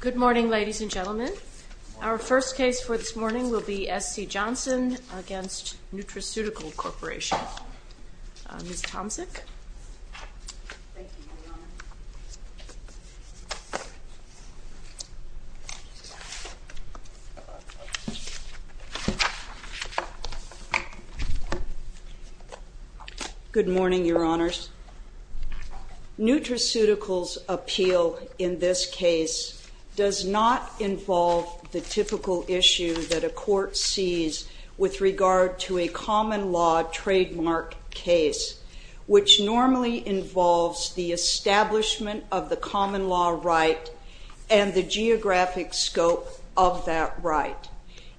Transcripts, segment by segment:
Good morning, ladies and gentlemen. Our first case for this morning will be S.C. Johnson v. Nutraceutical Corporation. Ms. Tomczyk. Thank you, Your Honor. Good morning, Your Honors. Nutraceutical's appeal in this case does not involve the typical issue that a court sees with regard to a common law trademark case, which normally involves the establishment of the common law right and the geographic scope of that right.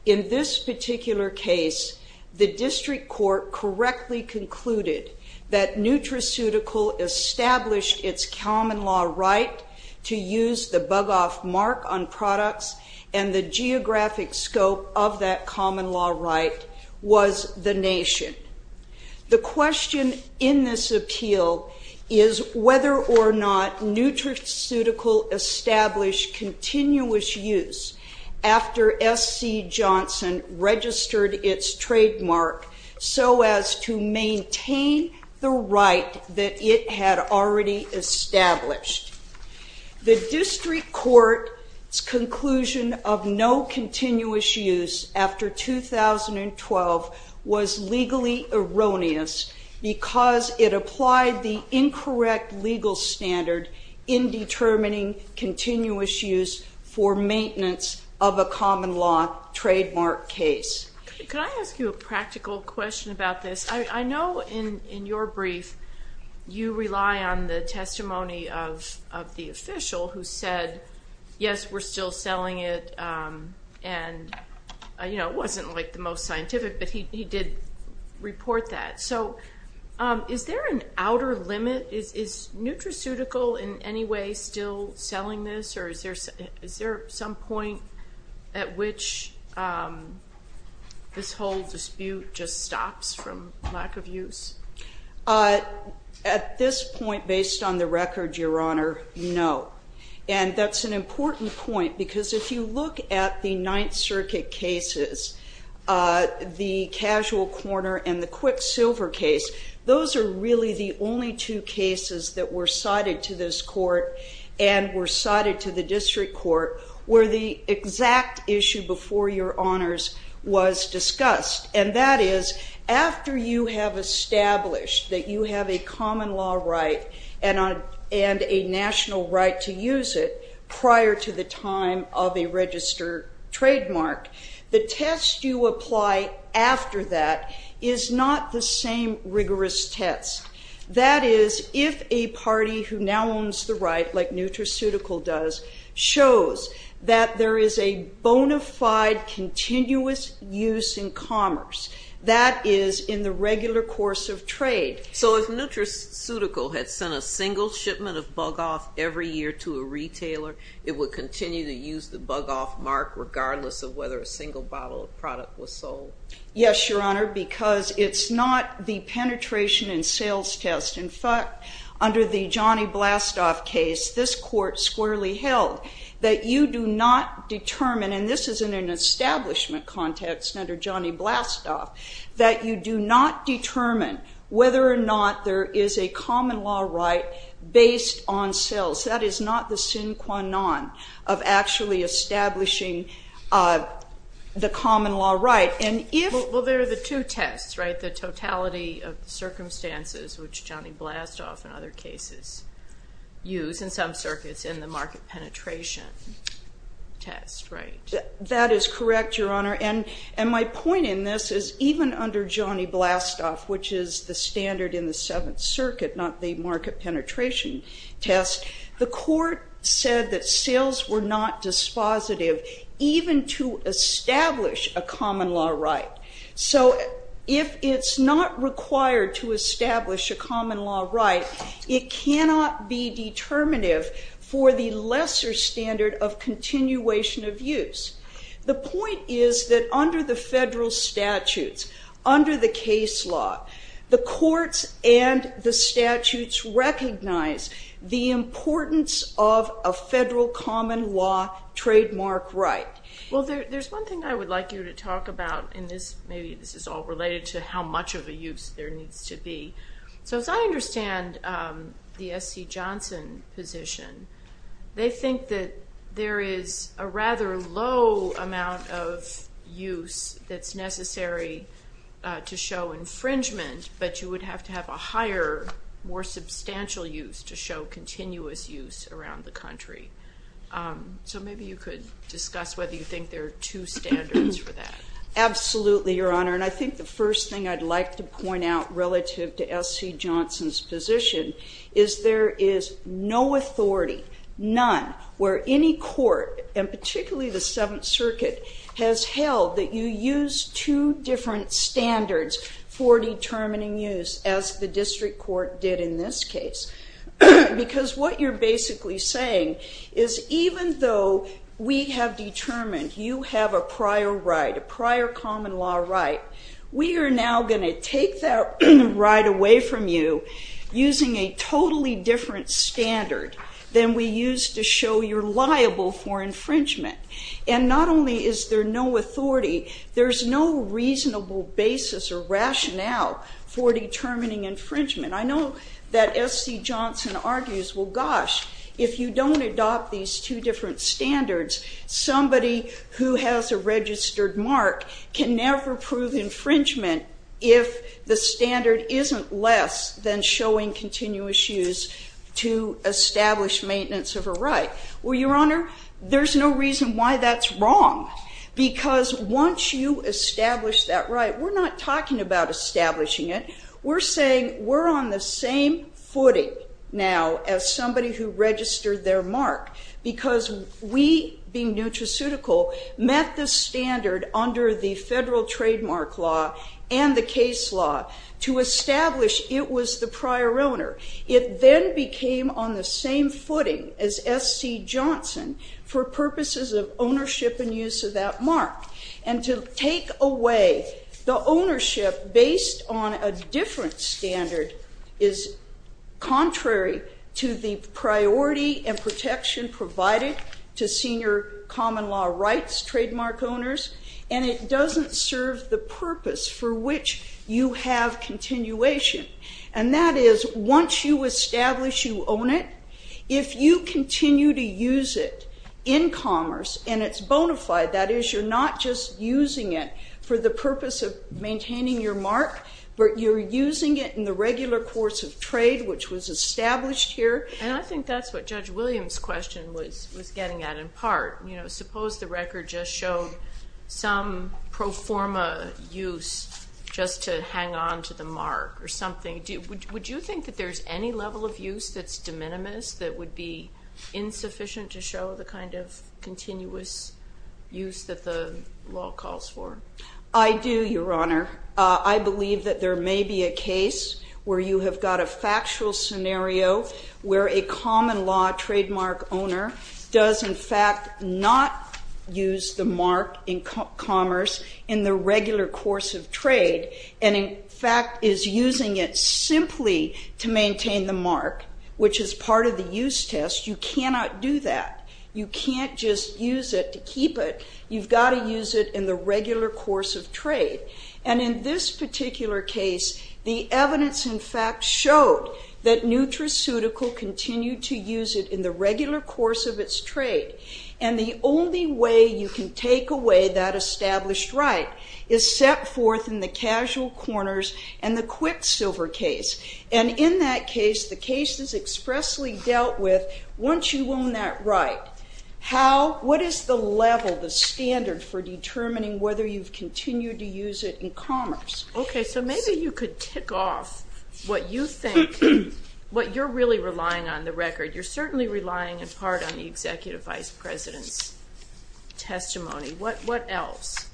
In this particular case, the district court correctly concluded that Nutraceutical established its common law right to use the bug-off mark on products and the geographic scope of that common law right was the nation. The question in this appeal is whether or not Nutraceutical established continuous use after S.C. Johnson registered its trademark so as to maintain the right that it had already established. The district court's conclusion of no continuous use after 2012 was legally erroneous because it applied the incorrect legal standard in determining continuous use for maintenance of a common law trademark case. Could I ask you a practical question about this? I know in your brief you rely on the testimony of the official who said, yes, we're still selling it, and it wasn't the most scientific, but he did report that. So is there an outer limit? Is Nutraceutical in any way still selling this, or is there some point at which this whole dispute just stops from lack of use? At this point, based on the record, Your Honor, no. And that's an important point because if you look at the Ninth Circuit cases, the Casual Corner and the Quicksilver case, those are really the only two cases that were cited to this court and were cited to the district court where the exact issue before Your Honors was discussed, and that is after you have established that you have a common law right and a national right to use it prior to the time of a registered trademark, the test you apply after that is not the same rigorous test. That is, if a party who now owns the right, like Nutraceutical does, shows that there is a bona fide continuous use in commerce, that is in the regular course of trade. So if Nutraceutical had sent a single shipment of Bug-Off every year to a retailer, it would continue to use the Bug-Off mark, regardless of whether a single bottle of product was sold. Yes, Your Honor, because it's not the penetration and sales test. In fact, under the Johnny Blastoff case, this court squarely held that you do not determine, and this is in an establishment context under Johnny Blastoff, that you do not determine whether or not there is a common law right based on sales. That is not the sine qua non of actually establishing the common law right. Well, there are the two tests, right, the totality of the circumstances, which Johnny Blastoff and other cases use in some circuits, and the market penetration test, right? That is correct, Your Honor, and my point in this is even under Johnny Blastoff, which is the standard in the Seventh Circuit, not the market penetration test, the court said that sales were not dispositive even to establish a common law right. So if it's not required to establish a common law right, it cannot be determinative for the lesser standard of continuation of use. The point is that under the federal statutes, under the case law, the courts and the statutes recognize the importance of a federal common law trademark right. Well, there's one thing I would like you to talk about in this. Maybe this is all related to how much of a use there needs to be. So as I understand the S.C. Johnson position, they think that there is a rather low amount of use that's necessary to show infringement, but you would have to have a higher, more substantial use to show continuous use around the country. So maybe you could discuss whether you think there are two standards for that. Absolutely, Your Honor, and I think the first thing I'd like to point out relative to S.C. Johnson's position is there is no authority, none, where any court, and particularly the Seventh Circuit, has held that you use two different standards for determining use, as the district court did in this case. Because what you're basically saying is even though we have determined you have a prior right, a prior common law right, we are now going to take that right away from you using a totally different standard than we used to show you're liable for infringement. And not only is there no authority, there's no reasonable basis or rationale for determining infringement. I know that S.C. Johnson argues, well, gosh, if you don't adopt these two different standards, somebody who has a registered mark can never prove infringement if the standard isn't less than showing continuous use to establish maintenance of a right. Well, Your Honor, there's no reason why that's wrong. Because once you establish that right, we're not talking about establishing it, we're saying we're on the same footing now as somebody who registered their mark. Because we, being nutraceutical, met the standard under the federal trademark law and the case law to establish it was the prior owner. It then became on the same footing as S.C. Johnson for purposes of ownership and use of that mark. And to take away the ownership based on a different standard is contrary to the priority and protection provided to senior common law rights trademark owners, and it doesn't serve the purpose for which you have continuation. And that is, once you establish you own it, if you continue to use it in commerce and it's bona fide, that is, you're not just using it for the purpose of maintaining your mark, but you're using it in the regular course of trade, which was established here. And I think that's what Judge Williams' question was getting at in part. Suppose the record just showed some pro forma use just to hang on to the mark or something. Would you think that there's any level of use that's de minimis, that would be insufficient to show the kind of continuous use that the law calls for? I do, Your Honor. I believe that there may be a case where you have got a factual scenario where a common law trademark owner does, in fact, not use the mark in commerce in the regular course of trade and, in fact, is using it simply to maintain the mark, which is part of the use test. You cannot do that. You can't just use it to keep it. You've got to use it in the regular course of trade. And in this particular case, the evidence, in fact, showed that NutraCeutical continued to use it in the regular course of its trade. And the only way you can take away that established right is set forth in the casual corners and the quicksilver case. And in that case, the case is expressly dealt with once you own that right. What is the level, the standard, for determining whether you've continued to use it in commerce? Okay, so maybe you could tick off what you think, what you're really relying on, the record. You're certainly relying in part on the Executive Vice President's testimony. What else?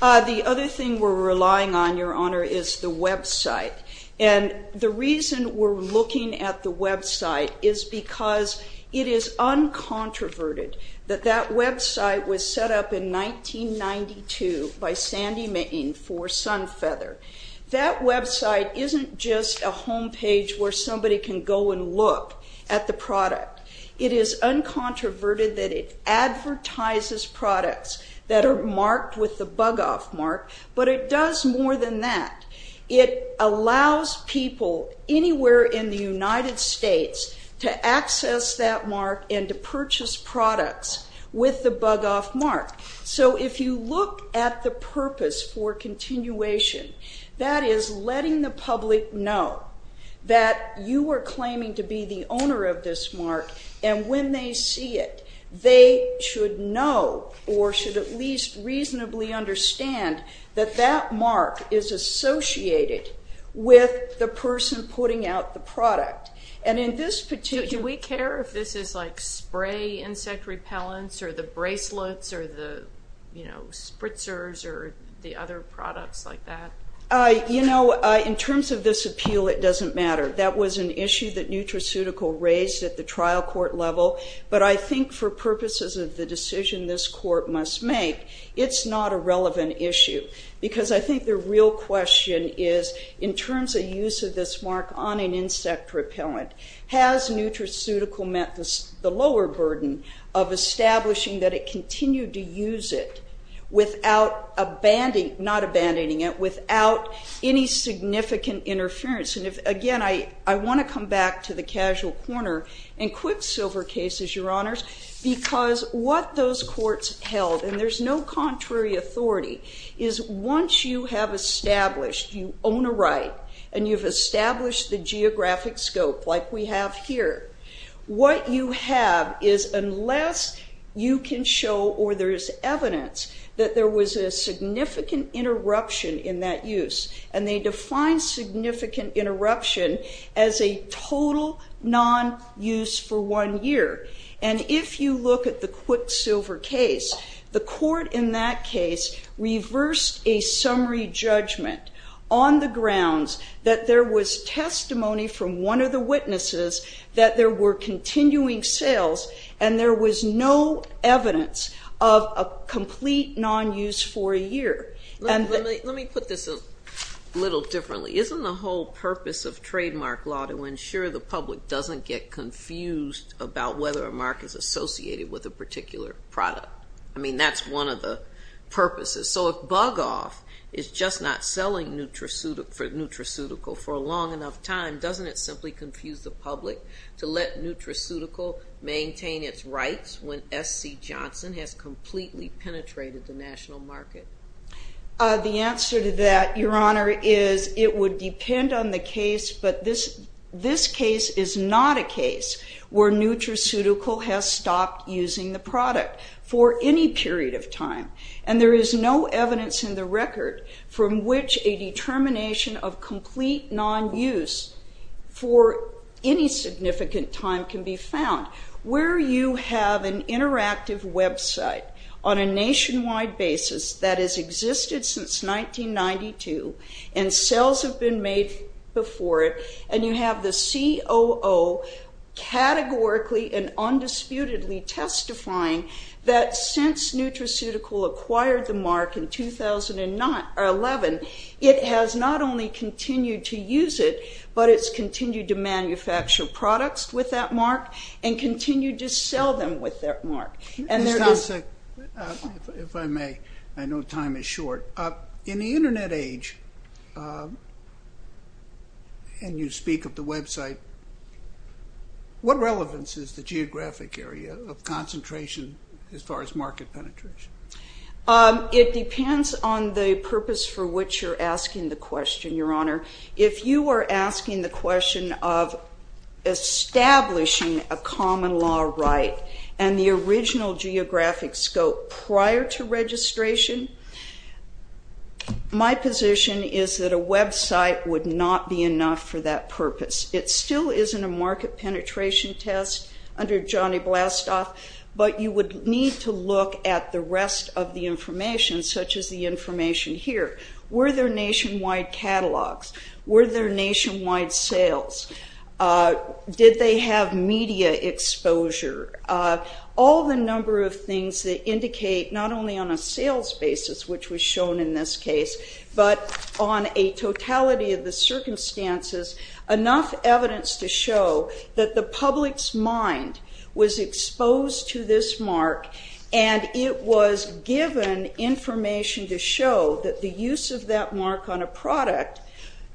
The other thing we're relying on, Your Honor, is the website. And the reason we're looking at the website is because it is uncontroverted that that website was set up in 1992 by Sandy Mitting for Sunfeather. That website isn't just a home page where somebody can go and look at the product. It is uncontroverted that it advertises products that are marked with the bug-off mark, but it does more than that. It allows people anywhere in the United States to access that mark and to purchase products with the bug-off mark. So if you look at the purpose for continuation, that is letting the public know that you are claiming to be the owner of this mark, and when they see it, they should know or should at least reasonably understand that that mark is associated with the person putting out the product. Do we care if this is like spray insect repellents or the bracelets or the spritzers or the other products like that? You know, in terms of this appeal, it doesn't matter. That was an issue that Nutraceutical raised at the trial court level, but I think for purposes of the decision this court must make, it's not a relevant issue because I think the real question is, in terms of use of this mark on an insect repellent, has Nutraceutical met the lower burden of establishing that it continued to use it without any significant interference? And again, I want to come back to the casual corner and quick silver cases, because what those courts held, and there's no contrary authority, is once you have established you own a right and you've established the geographic scope like we have here, what you have is unless you can show or there is evidence that there was a significant interruption in that use, and they define significant interruption as a total non-use for one year. And if you look at the quick silver case, the court in that case reversed a summary judgment on the grounds that there was testimony from one of the witnesses that there were continuing sales and there was no evidence of a complete non-use for a year. Let me put this a little differently. Isn't the whole purpose of trademark law to ensure the public doesn't get confused about whether a mark is associated with a particular product? I mean, that's one of the purposes. So if Bug Off is just not selling Nutraceutical for a long enough time, doesn't it simply confuse the public to let Nutraceutical maintain its rights when SC Johnson has completely penetrated the national market? The answer to that, Your Honor, is it would depend on the case, but this case is not a case where Nutraceutical has stopped using the product for any period of time. And there is no evidence in the record from which a determination of complete non-use for any significant time can be found. Where you have an interactive website on a nationwide basis that has existed since 1992 and sales have been made before it and you have the COO categorically and undisputedly testifying that since Nutraceutical acquired the mark in 2011, it has not only continued to use it, but it's continued to manufacture products with that mark and continued to sell them with that mark. Ms. Tomsek, if I may, I know time is short. In the Internet age, and you speak of the website, what relevance is the geographic area of concentration as far as market penetration? It depends on the purpose for which you're asking the question, Your Honor. If you are asking the question of establishing a common law right and the original geographic scope prior to registration, my position is that a website would not be enough for that purpose. It still isn't a market penetration test under Johnny Blastoff, but you would need to look at the rest of the information, such as the information here. Were there nationwide catalogs? Were there nationwide sales? Did they have media exposure? All the number of things that indicate not only on a sales basis, which was shown in this case, but on a totality of the circumstances, enough evidence to show that the public's mind was exposed to this mark and it was given information to show that the use of that mark on a product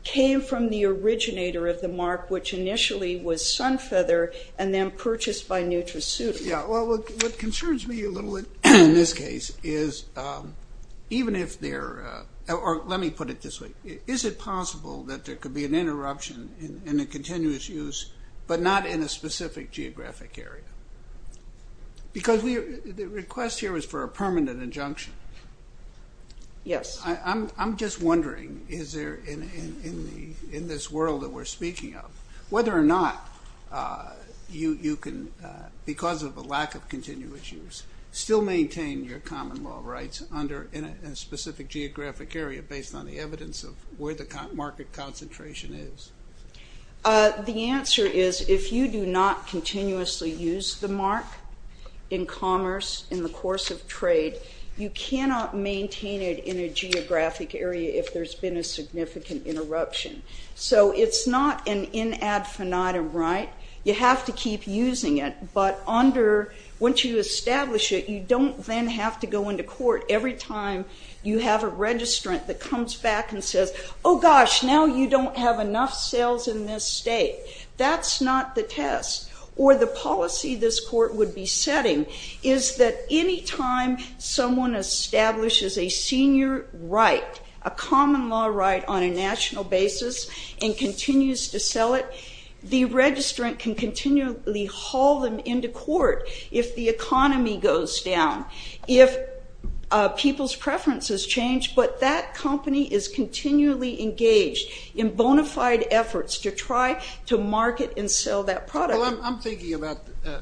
came from the originator of the mark, which initially was Sunfeather and then purchased by NutraSuitable. What concerns me a little bit in this case is even if there are, or let me put it this way, is it possible that there could be an interruption in the continuous use but not in a specific geographic area? Because the request here is for a permanent injunction. Yes. I'm just wondering, in this world that we're speaking of, whether or not you can, because of a lack of continuous use, still maintain your common law rights in a specific geographic area based on the evidence of where the market concentration is. The answer is if you do not continuously use the mark in commerce, in the course of trade, you cannot maintain it in a geographic area if there's been a significant interruption. So it's not an in ad finitum right. You have to keep using it, but under, once you establish it, you don't then have to go into court every time you have a registrant that comes back and says, oh gosh, now you don't have enough sales in this state. That's not the test, or the policy this court would be setting is that any time someone establishes a senior right, a common law right on a national basis and continues to sell it, the registrant can continually haul them into court if the economy goes down, if people's preferences change, but that company is continually engaged in bona fide efforts to try to market and sell that product. Well, I'm thinking about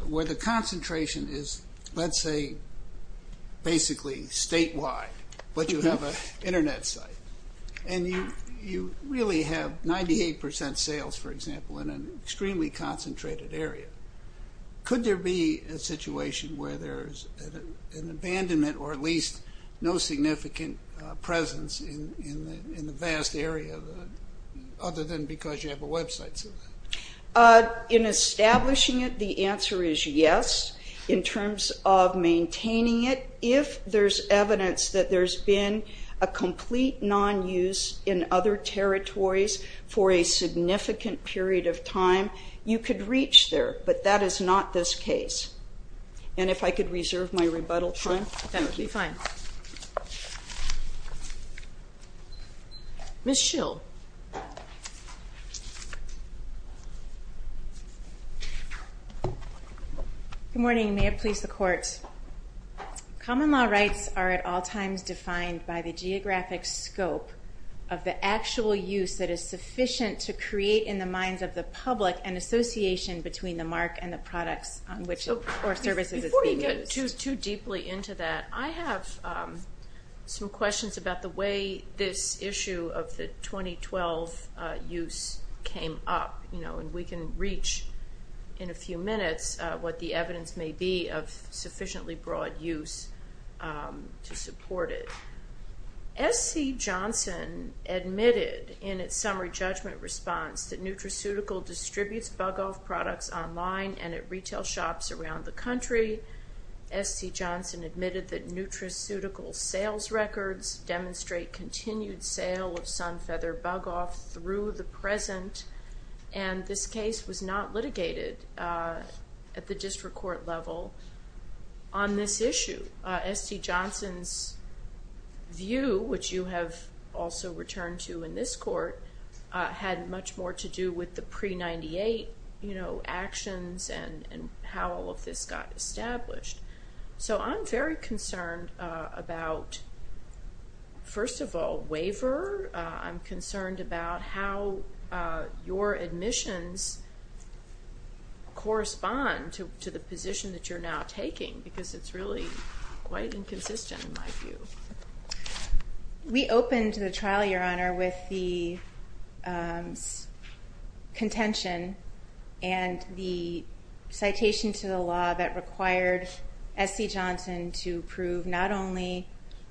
where the concentration is, let's say basically statewide, but you have an Internet site, and you really have 98% sales, for example, in an extremely concentrated area. Could there be a situation where there's an abandonment or at least no significant presence in the vast area other than because you have a website? In establishing it, the answer is yes. In terms of maintaining it, if there's evidence that there's been a complete non-use in other territories for a significant period of time, you could reach there, but that is not this case. And if I could reserve my rebuttal time? That would be fine. Ms. Schill. Good morning, and may it please the Court. Common law rights are at all times defined by the geographic scope of the actual use that is sufficient to create in the minds of the public an association between the mark and the products or services that's being used. Before we get too deeply into that, I have some questions about the way this issue of the 2012 use came up, and we can reach in a few minutes what the evidence may be of sufficiently broad use to support it. SC Johnson admitted in its summary judgment response that Nutraceutical distributes Bug-Off products online and at retail shops around the country. SC Johnson admitted that Nutraceutical sales records demonstrate continued sale of Sunfeather Bug-Off through the present, and this case was not litigated at the district court level on this issue. SC Johnson's view, which you have also returned to in this court, had much more to do with the pre-'98 actions and how all of this got established. So I'm very concerned about, first of all, waiver. I'm concerned about how your admissions correspond to the position that you're now taking because it's really quite inconsistent in my view. We opened the trial, Your Honor, with the contention and the citation to the law that required SC Johnson to prove not only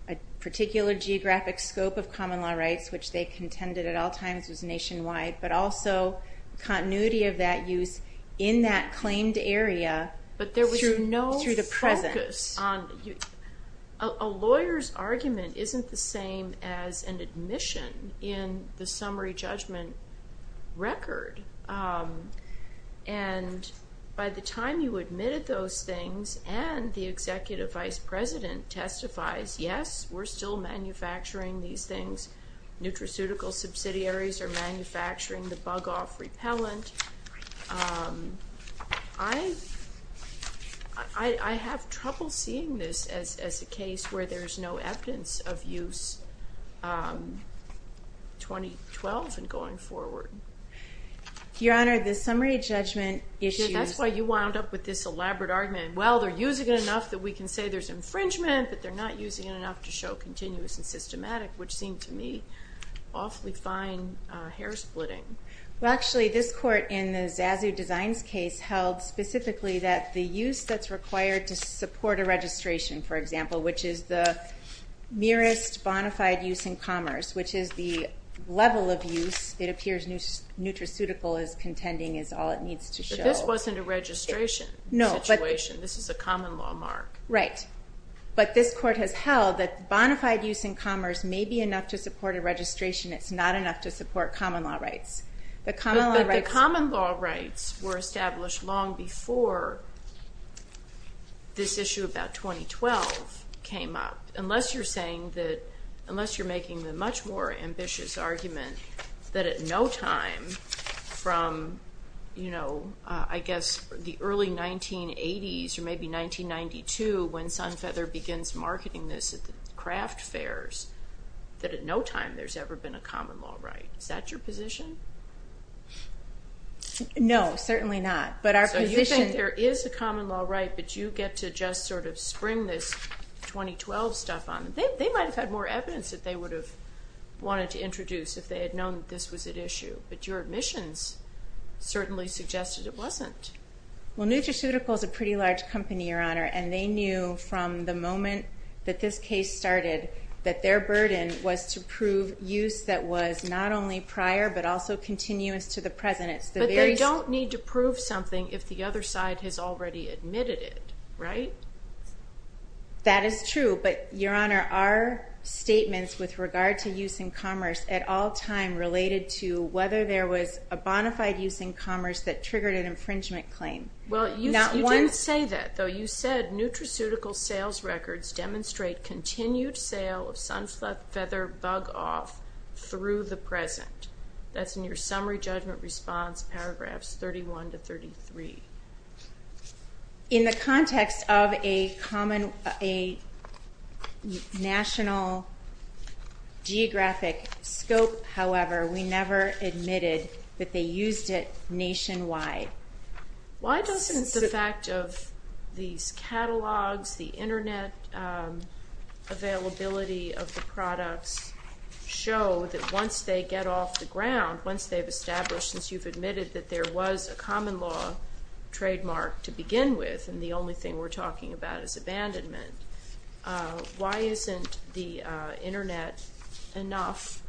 a particular geographic scope of common law rights, which they contended at all times was nationwide, but also continuity of that use in that claimed area through the present. A lawyer's argument isn't the same as an admission in the summary judgment record. And by the time you admitted those things and the executive vice president testifies, yes, we're still manufacturing these things, Nutraceutical subsidiaries are manufacturing the Bug-Off repellent. I have trouble seeing this as a case where there's no evidence of use 2012 and going forward. Your Honor, the summary judgment issues... That's why you wound up with this elaborate argument. Well, they're using it enough that we can say there's infringement, but they're not using it enough to show continuous and systematic, which seemed to me awfully fine hair-splitting. Well, actually, this court in the Zazu Designs case held specifically that the use that's required to support a registration, for example, which is the merest bonafide use in commerce, which is the level of use. It appears Nutraceutical is contending is all it needs to show. But this wasn't a registration situation. This is a common law mark. Right. But this court has held that bonafide use in commerce may be enough to support a registration. It's not enough to support common law rights. But the common law rights were established long before this issue about 2012 came up, unless you're saying that unless you're making the much more ambitious argument that at no time from, you know, I guess the early 1980s or maybe 1992 when Sunfeather begins marketing this at the craft fairs, that at no time there's ever been a common law right. Is that your position? No, certainly not. But our position— So you think there is a common law right, but you get to just sort of spring this 2012 stuff on. They might have had more evidence that they would have wanted to introduce if they had known that this was at issue. But your admissions certainly suggested it wasn't. Well, Nutraceutical is a pretty large company, Your Honor, and they knew from the moment that this case started that their burden was to prove use that was not only prior but also continuous to the present. But they don't need to prove something if the other side has already admitted it, right? That is true. But, Your Honor, our statements with regard to use in commerce at all time related to whether there was a bona fide use in commerce that triggered an infringement claim. Well, you didn't say that, though. You said Nutraceutical sales records demonstrate continued sale of sunflower feather bug off through the present. That's in your summary judgment response, paragraphs 31 to 33. In the context of a national geographic scope, however, we never admitted that they used it nationwide. Okay. Why doesn't the fact of these catalogs, the Internet availability of the products, show that once they get off the ground, once they've established, since you've admitted that there was a common law trademark to begin with and the only thing we're talking about is abandonment, why isn't the Internet enough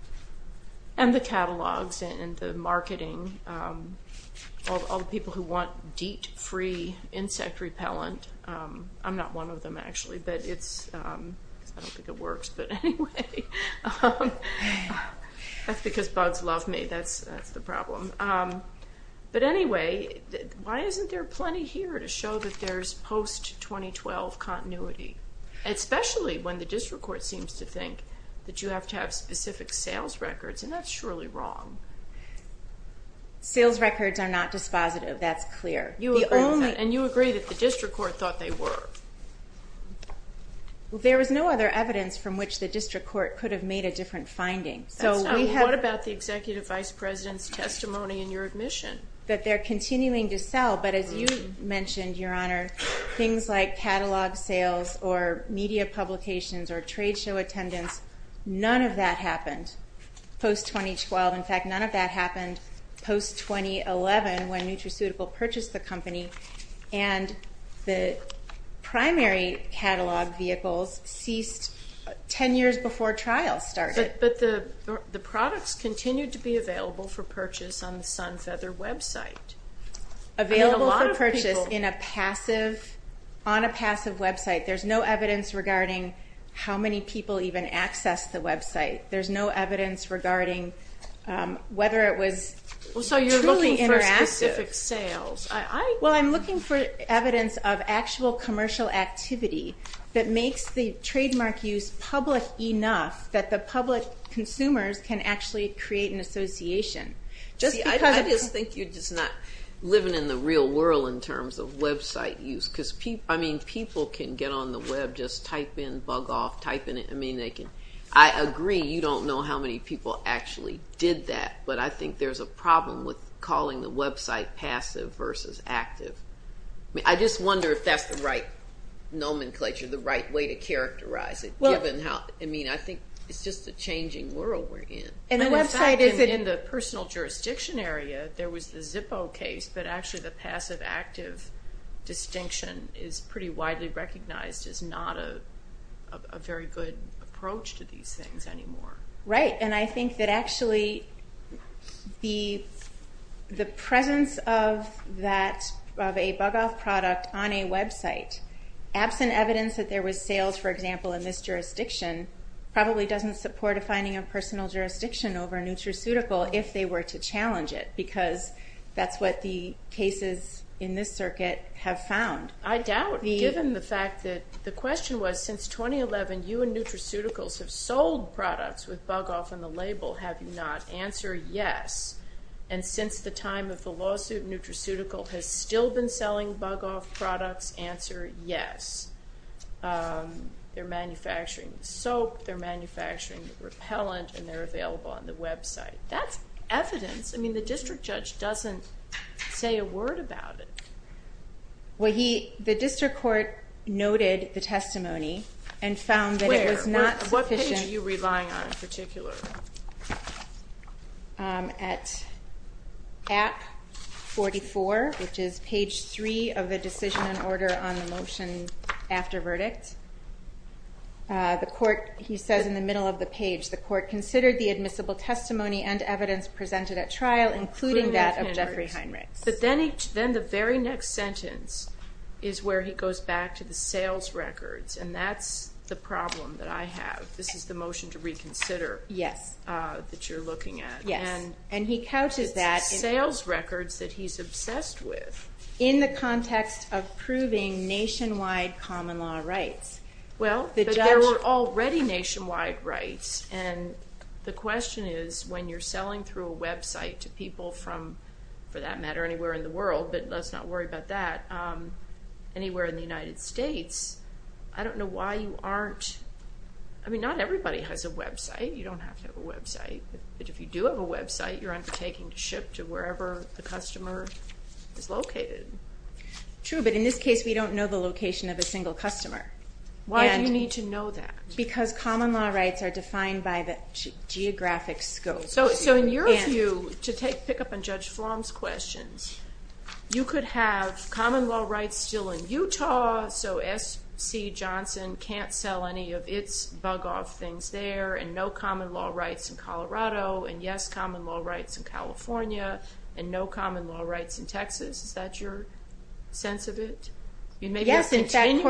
and the catalogs and the marketing of all the people who want DEET-free insect repellent? I'm not one of them, actually. I don't think it works, but anyway. That's because bugs love me. That's the problem. But anyway, why isn't there plenty here to show that there's post-2012 continuity, especially when the district court seems to think that you have to have Sales records are not dispositive. That's clear. And you agree that the district court thought they were. There was no other evidence from which the district court could have made a different finding. What about the Executive Vice President's testimony in your admission? That they're continuing to sell, but as you mentioned, Your Honor, things like catalog sales or media publications or trade show attendance, none of that happened post-2012. In fact, none of that happened post-2011 when Nutraceutical purchased the company, and the primary catalog vehicles ceased 10 years before trials started. But the products continued to be available for purchase on the Sunfeather website. Available for purchase on a passive website. There's no evidence regarding how many people even access the website. There's no evidence regarding whether it was truly interactive. So you're looking for specific sales. Well, I'm looking for evidence of actual commercial activity that makes the trademark use public enough that the public consumers can actually create an association. I just think you're just not living in the real world in terms of website use. I mean, people can get on the web, just type in, bug off, type in. I agree you don't know how many people actually did that, but I think there's a problem with calling the website passive versus active. I just wonder if that's the right nomenclature, the right way to characterize it, given how, I mean, I think it's just a changing world we're in. In the personal jurisdiction area, there was the Zippo case, but actually the passive-active distinction is pretty widely recognized as not a very good approach to these things anymore. Right, and I think that actually the presence of that, of a bug-off product on a website, absent evidence that there was sales, for example, in this jurisdiction, probably doesn't support a finding of personal jurisdiction over a nutraceutical if they were to challenge it, because that's what the cases in this circuit have found. I doubt, given the fact that the question was, since 2011 you and nutraceuticals have sold products with bug-off on the label, have you not? Answer, yes. And since the time of the lawsuit, nutraceutical has still been selling bug-off products? Answer, yes. They're manufacturing soap, they're manufacturing repellent, and they're available on the website. That's evidence. I mean, the district judge doesn't say a word about it. Well, the district court noted the testimony and found that it was not sufficient. What page are you relying on in particular? At 44, which is page 3 of the decision and order on the motion after verdict. The court, he says in the middle of the page, the court considered the admissible testimony and evidence presented at trial, including that of Jeffrey Heinrichs. But then the very next sentence is where he goes back to the sales records, and that's the problem that I have. This is the motion to reconsider that you're looking at. Yes, and he couches that. It's the sales records that he's obsessed with. In the context of proving nationwide common law rights. Well, but there were already nationwide rights, and the question is when you're selling through a website to people from, for that matter, anywhere in the world. But let's not worry about that. Anywhere in the United States, I don't know why you aren't. I mean, not everybody has a website. You don't have to have a website. But if you do have a website, you're undertaking to ship to wherever the customer is located. True, but in this case, we don't know the location of a single customer. Why do you need to know that? Because common law rights are defined by the geographic scope. So in your view, to pick up on Judge Flom's questions, you could have common law rights still in Utah, so SC Johnson can't sell any of its bug off things there, and no common law rights in Colorado, and yes, common law rights in California, and no common law rights in Texas. Is that your sense of it? Yes, in fact,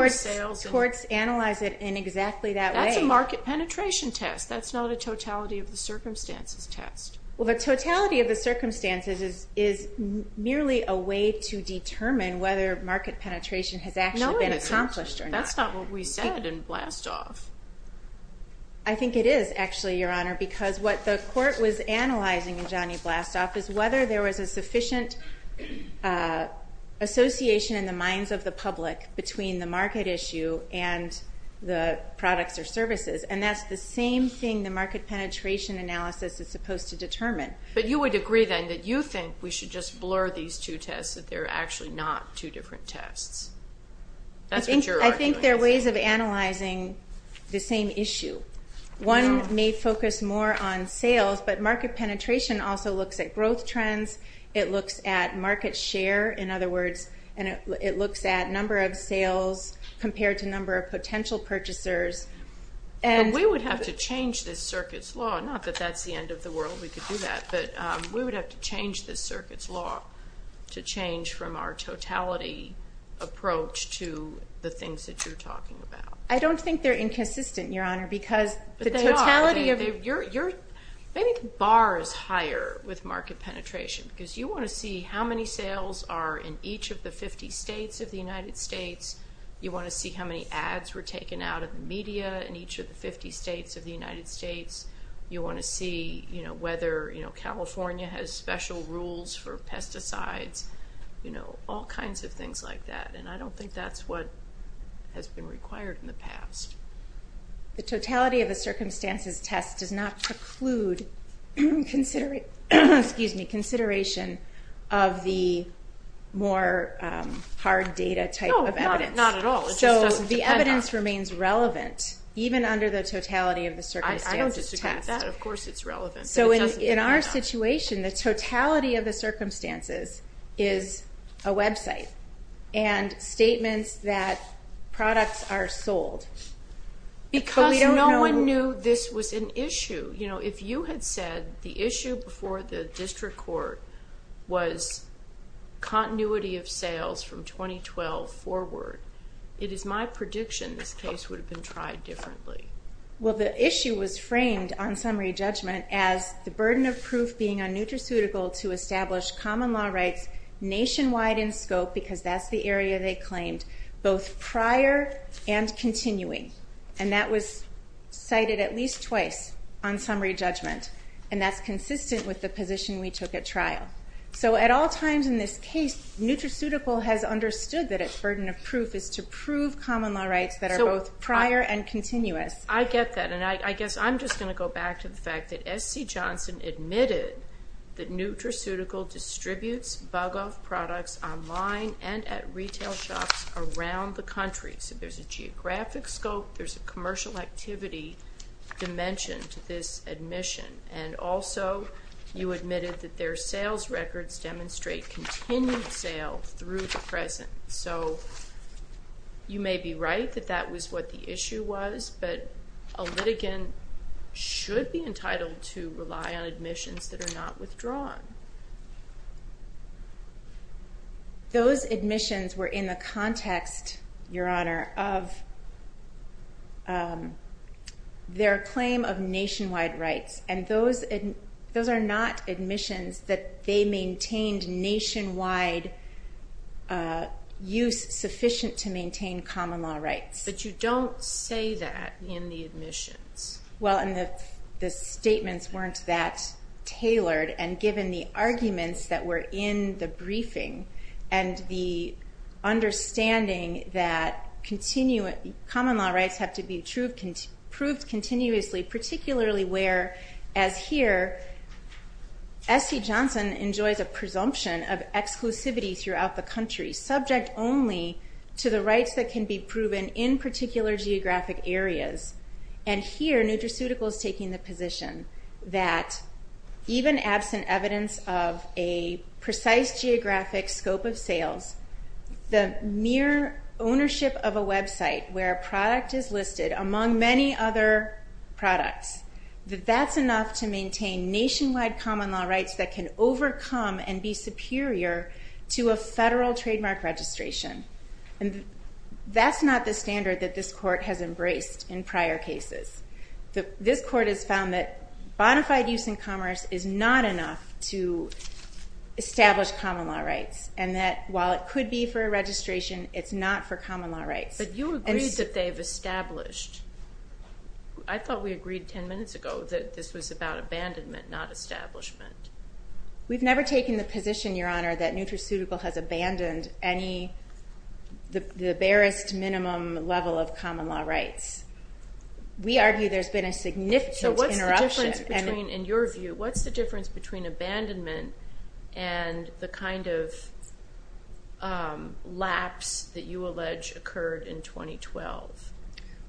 courts analyze it in exactly that way. That's a market penetration test. That's not a totality of the circumstances test. Well, the totality of the circumstances is merely a way to determine whether market penetration has actually been accomplished or not. That's not what we said in Blastoff. I think it is, actually, Your Honor, because what the court was analyzing in Johnny Blastoff is whether there was a sufficient association in the minds of the public between the market issue and the products or services, and that's the same thing the market penetration analysis is supposed to determine. But you would agree, then, that you think we should just blur these two tests, that they're actually not two different tests. I think there are ways of analyzing the same issue. One may focus more on sales, but market penetration also looks at growth trends. It looks at market share, in other words, and it looks at number of sales compared to number of potential purchasers. We would have to change this circuit's law. Not that that's the end of the world, we could do that, but we would have to change this circuit's law to change from our totality approach to the things that you're talking about. I don't think they're inconsistent, Your Honor, because the totality of... But they are. Maybe the bar is higher with market penetration because you want to see how many sales are in each of the 50 states of the United States. You want to see how many ads were taken out of the media in each of the 50 states of the United States. You want to see whether California has special rules for pesticides, all kinds of things like that, and I don't think that's what has been required in the past. The totality of the circumstances test does not preclude consideration of the more hard data type of evidence. No, not at all. It just doesn't depend on it. So the evidence remains relevant, even under the totality of the circumstances test. I don't disagree with that. Of course it's relevant. So in our situation, the totality of the circumstances is a website and statements that products are sold. Because no one knew this was an issue. If you had said the issue before the district court was continuity of sales from 2012 forward, it is my prediction this case would have been tried differently. Well, the issue was framed on summary judgment as the burden of proof being un-nutraceutical to establish common law rights nationwide in scope, because that's the area they claimed, both prior and continuing. And that was cited at least twice on summary judgment, and that's consistent with the position we took at trial. So at all times in this case, nutraceutical has understood that its burden of proof is to prove common law rights that are both prior and continuous. I get that, and I guess I'm just going to go back to the fact that S.C. Johnson admitted that nutraceutical distributes bug-off products online and at retail shops around the country. So there's a geographic scope, there's a commercial activity dimension to this admission. And also you admitted that their sales records demonstrate continued sales through the present. So you may be right that that was what the issue was, but a litigant should be entitled to rely on admissions that are not withdrawn. Those admissions were in the context, Your Honor, of their claim of nationwide rights, and those are not admissions that they maintained nationwide use sufficient to maintain common law rights. But you don't say that in the admissions. Well, and the statements weren't that tailored and given the arguments that were in the briefing and the understanding that common law rights have to be proved continuously, particularly where, as here, S.C. Johnson enjoys a presumption of exclusivity throughout the country, subject only to the rights that can be proven in particular geographic areas. And here, nutraceutical is taking the position that even absent evidence of a precise geographic scope of sales, the mere ownership of a website where a product is listed, among many other products, that that's enough to maintain nationwide common law rights that can overcome and be superior to a federal trademark registration. And that's not the standard that this Court has embraced in prior cases. This Court has found that bona fide use in commerce is not enough to establish common law rights, and that while it could be for a registration, it's not for common law rights. But you agreed that they've established. I thought we agreed 10 minutes ago that this was about abandonment, not establishment. We've never taken the position, Your Honor, that nutraceutical has abandoned the barest minimum level of common law rights. We argue there's been a significant interruption. So what's the difference between, in your view, what's the difference between abandonment and the kind of lapse that you allege occurred in 2012?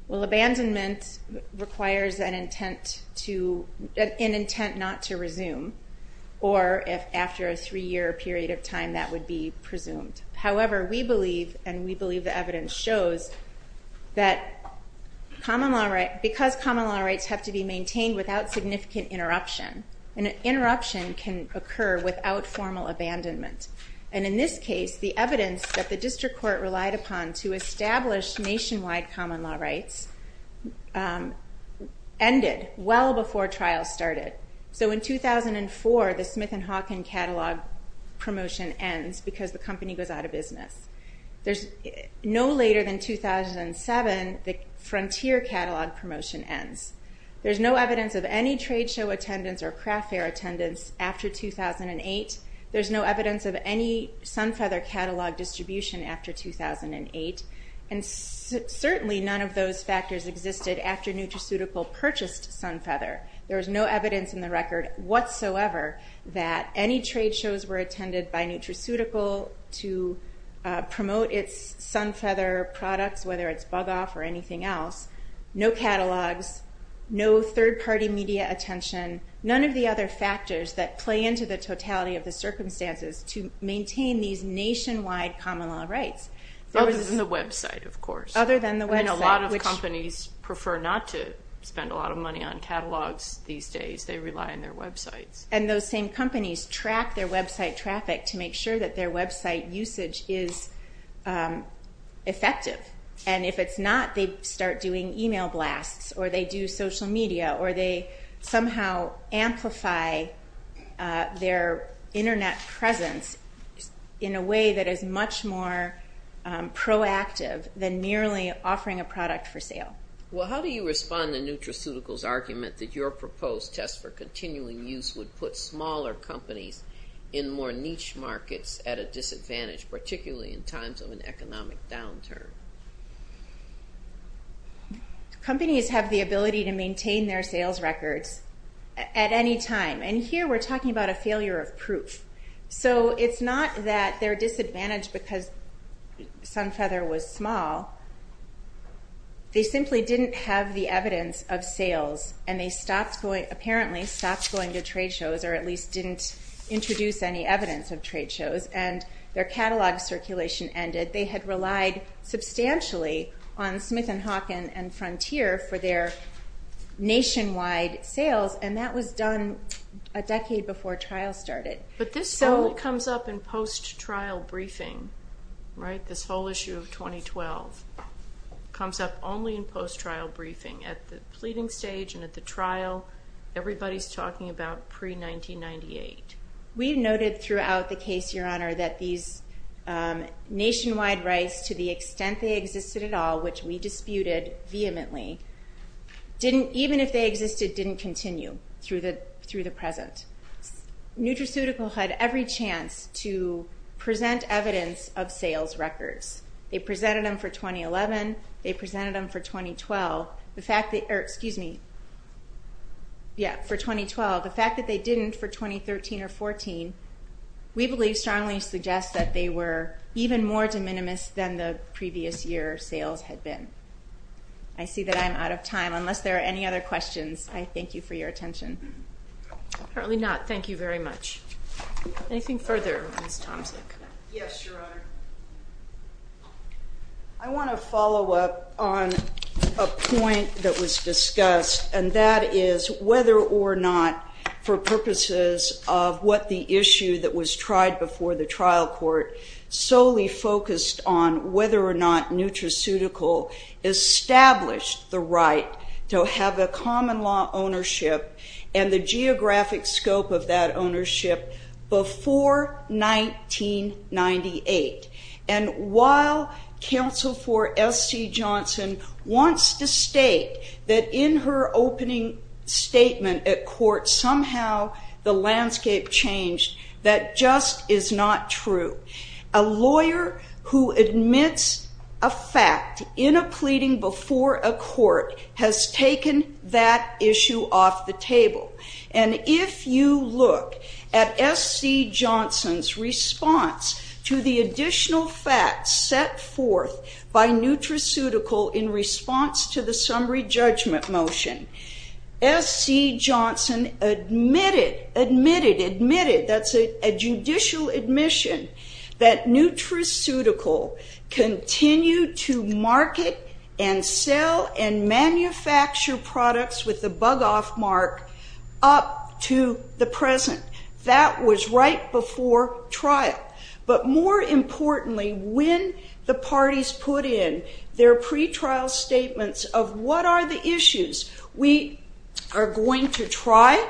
Well, abandonment requires an intent not to resume, or if after a three-year period of time that would be presumed. However, we believe, and we believe the evidence shows, that because common law rights have to be maintained without significant interruption, an interruption can occur without formal abandonment. And in this case, the evidence that the District Court relied upon to establish nationwide common law rights ended well before trials started. So in 2004, the Smith & Hawkin catalog promotion ends because the company goes out of business. No later than 2007, the Frontier catalog promotion ends. There's no evidence of any trade show attendance or craft fair attendance after 2008. There's no evidence of any Sunfeather catalog distribution after 2008. And certainly none of those factors existed after nutraceutical purchased Sunfeather. There's no evidence in the record whatsoever that any trade shows were attended by nutraceutical to promote its Sunfeather products, whether it's Bug Off or anything else. No catalogs, no third-party media attention, none of the other factors that play into the totality of the circumstances to maintain these nationwide common law rights. Other than the website, of course. Other than the website. I mean, a lot of companies prefer not to spend a lot of money on catalogs these days. They rely on their websites. And those same companies track their website traffic to make sure that their website usage is effective. And if it's not, they start doing email blasts, or they do social media, or they somehow amplify their Internet presence in a way that is much more proactive than merely offering a product for sale. Well, how do you respond to nutraceutical's argument that your proposed test for continuing use would put smaller companies in more niche markets at a disadvantage, particularly in times of an economic downturn? Companies have the ability to maintain their sales records at any time. And here we're talking about a failure of proof. So it's not that they're disadvantaged because Sunfeather was small. They simply didn't have the evidence of sales, and they apparently stopped going to trade shows, or at least didn't introduce any evidence of trade shows, and their catalog circulation ended. They had relied substantially on Smith & Hawkin and Frontier for their nationwide sales, and that was done a decade before trial started. But this only comes up in post-trial briefing, right? This whole issue of 2012 comes up only in post-trial briefing. At the pleading stage and at the trial, everybody's talking about pre-1998. We noted throughout the case, Your Honor, that these nationwide rights to the extent they existed at all, which we disputed vehemently, even if they existed, didn't continue through the present. Nutraceutical had every chance to present evidence of sales records. They presented them for 2011. They presented them for 2012. Excuse me. Yeah, for 2012. The fact that they didn't for 2013 or 14, we believe strongly suggests that they were even more de minimis than the previous year sales had been. I see that I'm out of time. Unless there are any other questions, I thank you for your attention. Apparently not. Thank you very much. Anything further, Ms. Tomczyk? Yes, Your Honor. I want to follow up on a point that was discussed, and that is whether or not, for purposes of what the issue that was tried before the trial court, solely focused on whether or not Nutraceutical established the right to have a common law ownership and the geographic scope of that ownership before 1998. And while counsel for S.C. Johnson wants to state that in her opening statement at court somehow the landscape changed, that just is not true. A lawyer who admits a fact in a pleading before a court has taken that issue off the table. And if you look at S.C. Johnson's response to the additional facts set forth by Nutraceutical in response to the summary judgment motion, S.C. Johnson admitted, admitted, admitted, that's a judicial admission, that Nutraceutical continue to market and sell and manufacture products with the bug off mark up to the present. That was right before trial. But more importantly, when the parties put in their pretrial statements of what are the issues we are going to try,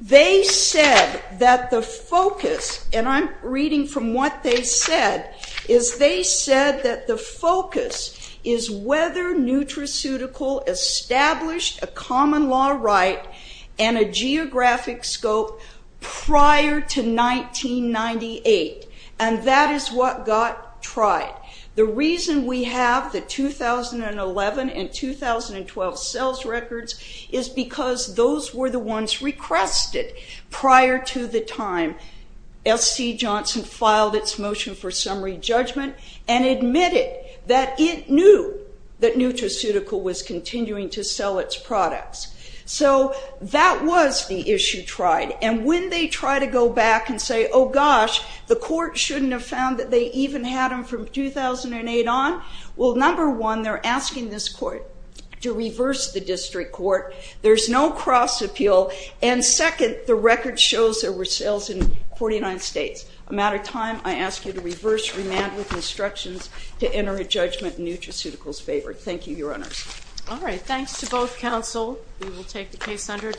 they said that the focus, and I'm reading from what they said, is they said that the focus is whether Nutraceutical established a common law right and a geographic scope prior to 1998. And that is what got tried. The reason we have the 2011 and 2012 sales records is because those were the ones requested prior to the time S.C. Johnson filed its motion for summary judgment and admitted that it knew that Nutraceutical was So that was the issue tried. And when they try to go back and say, oh, gosh, the court shouldn't have found that they even had them from 2008 on, well, number one, they're asking this court to reverse the district court. There's no cross appeal. And second, the record shows there were sales in 49 states. I'm out of time. I ask you to reverse remand with instructions to enter a judgment in Nutraceutical's favor. Thank you, Your Honors. All right. Thanks to both counsel. We will take the case under.